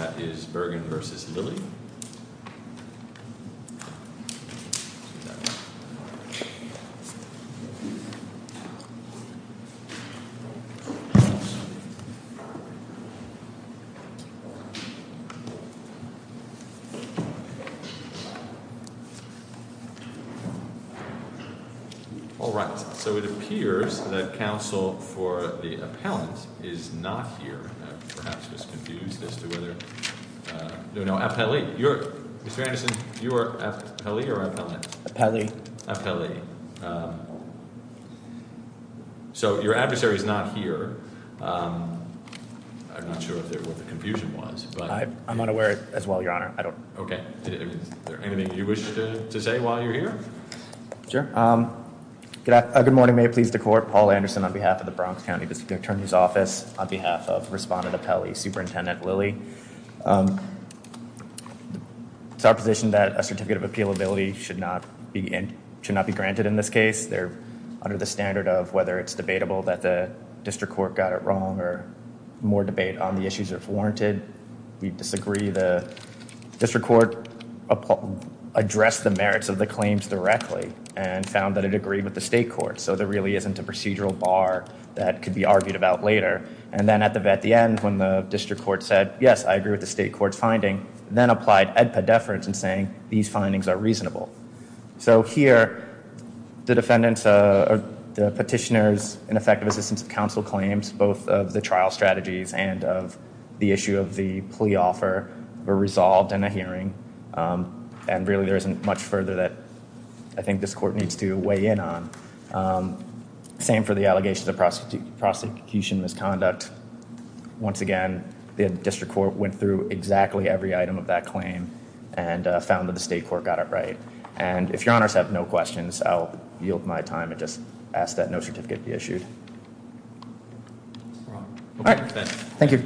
All right, so it appears that counsel for the appellant is not here, I'm perhaps just confused as to whether, no appellee, you're, Mr. Anderson, you are appellee or appellant? Appellee. So your adversary is not here. I'm not sure what the confusion was. I'm not aware as well, your honor. Okay. Anything you wish to say while you're here? Sure. Good morning, may it please the court, Paul Anderson on behalf of the Bronx County District Attorney's Office on behalf of Respondent Appellee Superintendent Lilley. It's our position that a certificate of appealability should not be granted in this case. They're under the standard of whether it's debatable that the district court got it wrong or more debate on the issues if warranted. We disagree the district court addressed the merits of the claims directly and found that it agreed with the state court. So there really isn't a procedural bar that could be argued about later. And then at the end, when the district court said, yes, I agree with the state court's finding, then applied EDPA deference in saying these findings are reasonable. So here, the petitioner's ineffective assistance of counsel claims, both of the trial strategies and of the issue of the plea offer were resolved in a hearing. And really, there isn't much further that I think this court needs to weigh in on. Same for the allegations of prosecution misconduct. Once again, the district court went through exactly every item of that claim and found that the state court got it right. And if your honors have no questions, I'll yield my time and just ask that no certificate be issued. Thank you.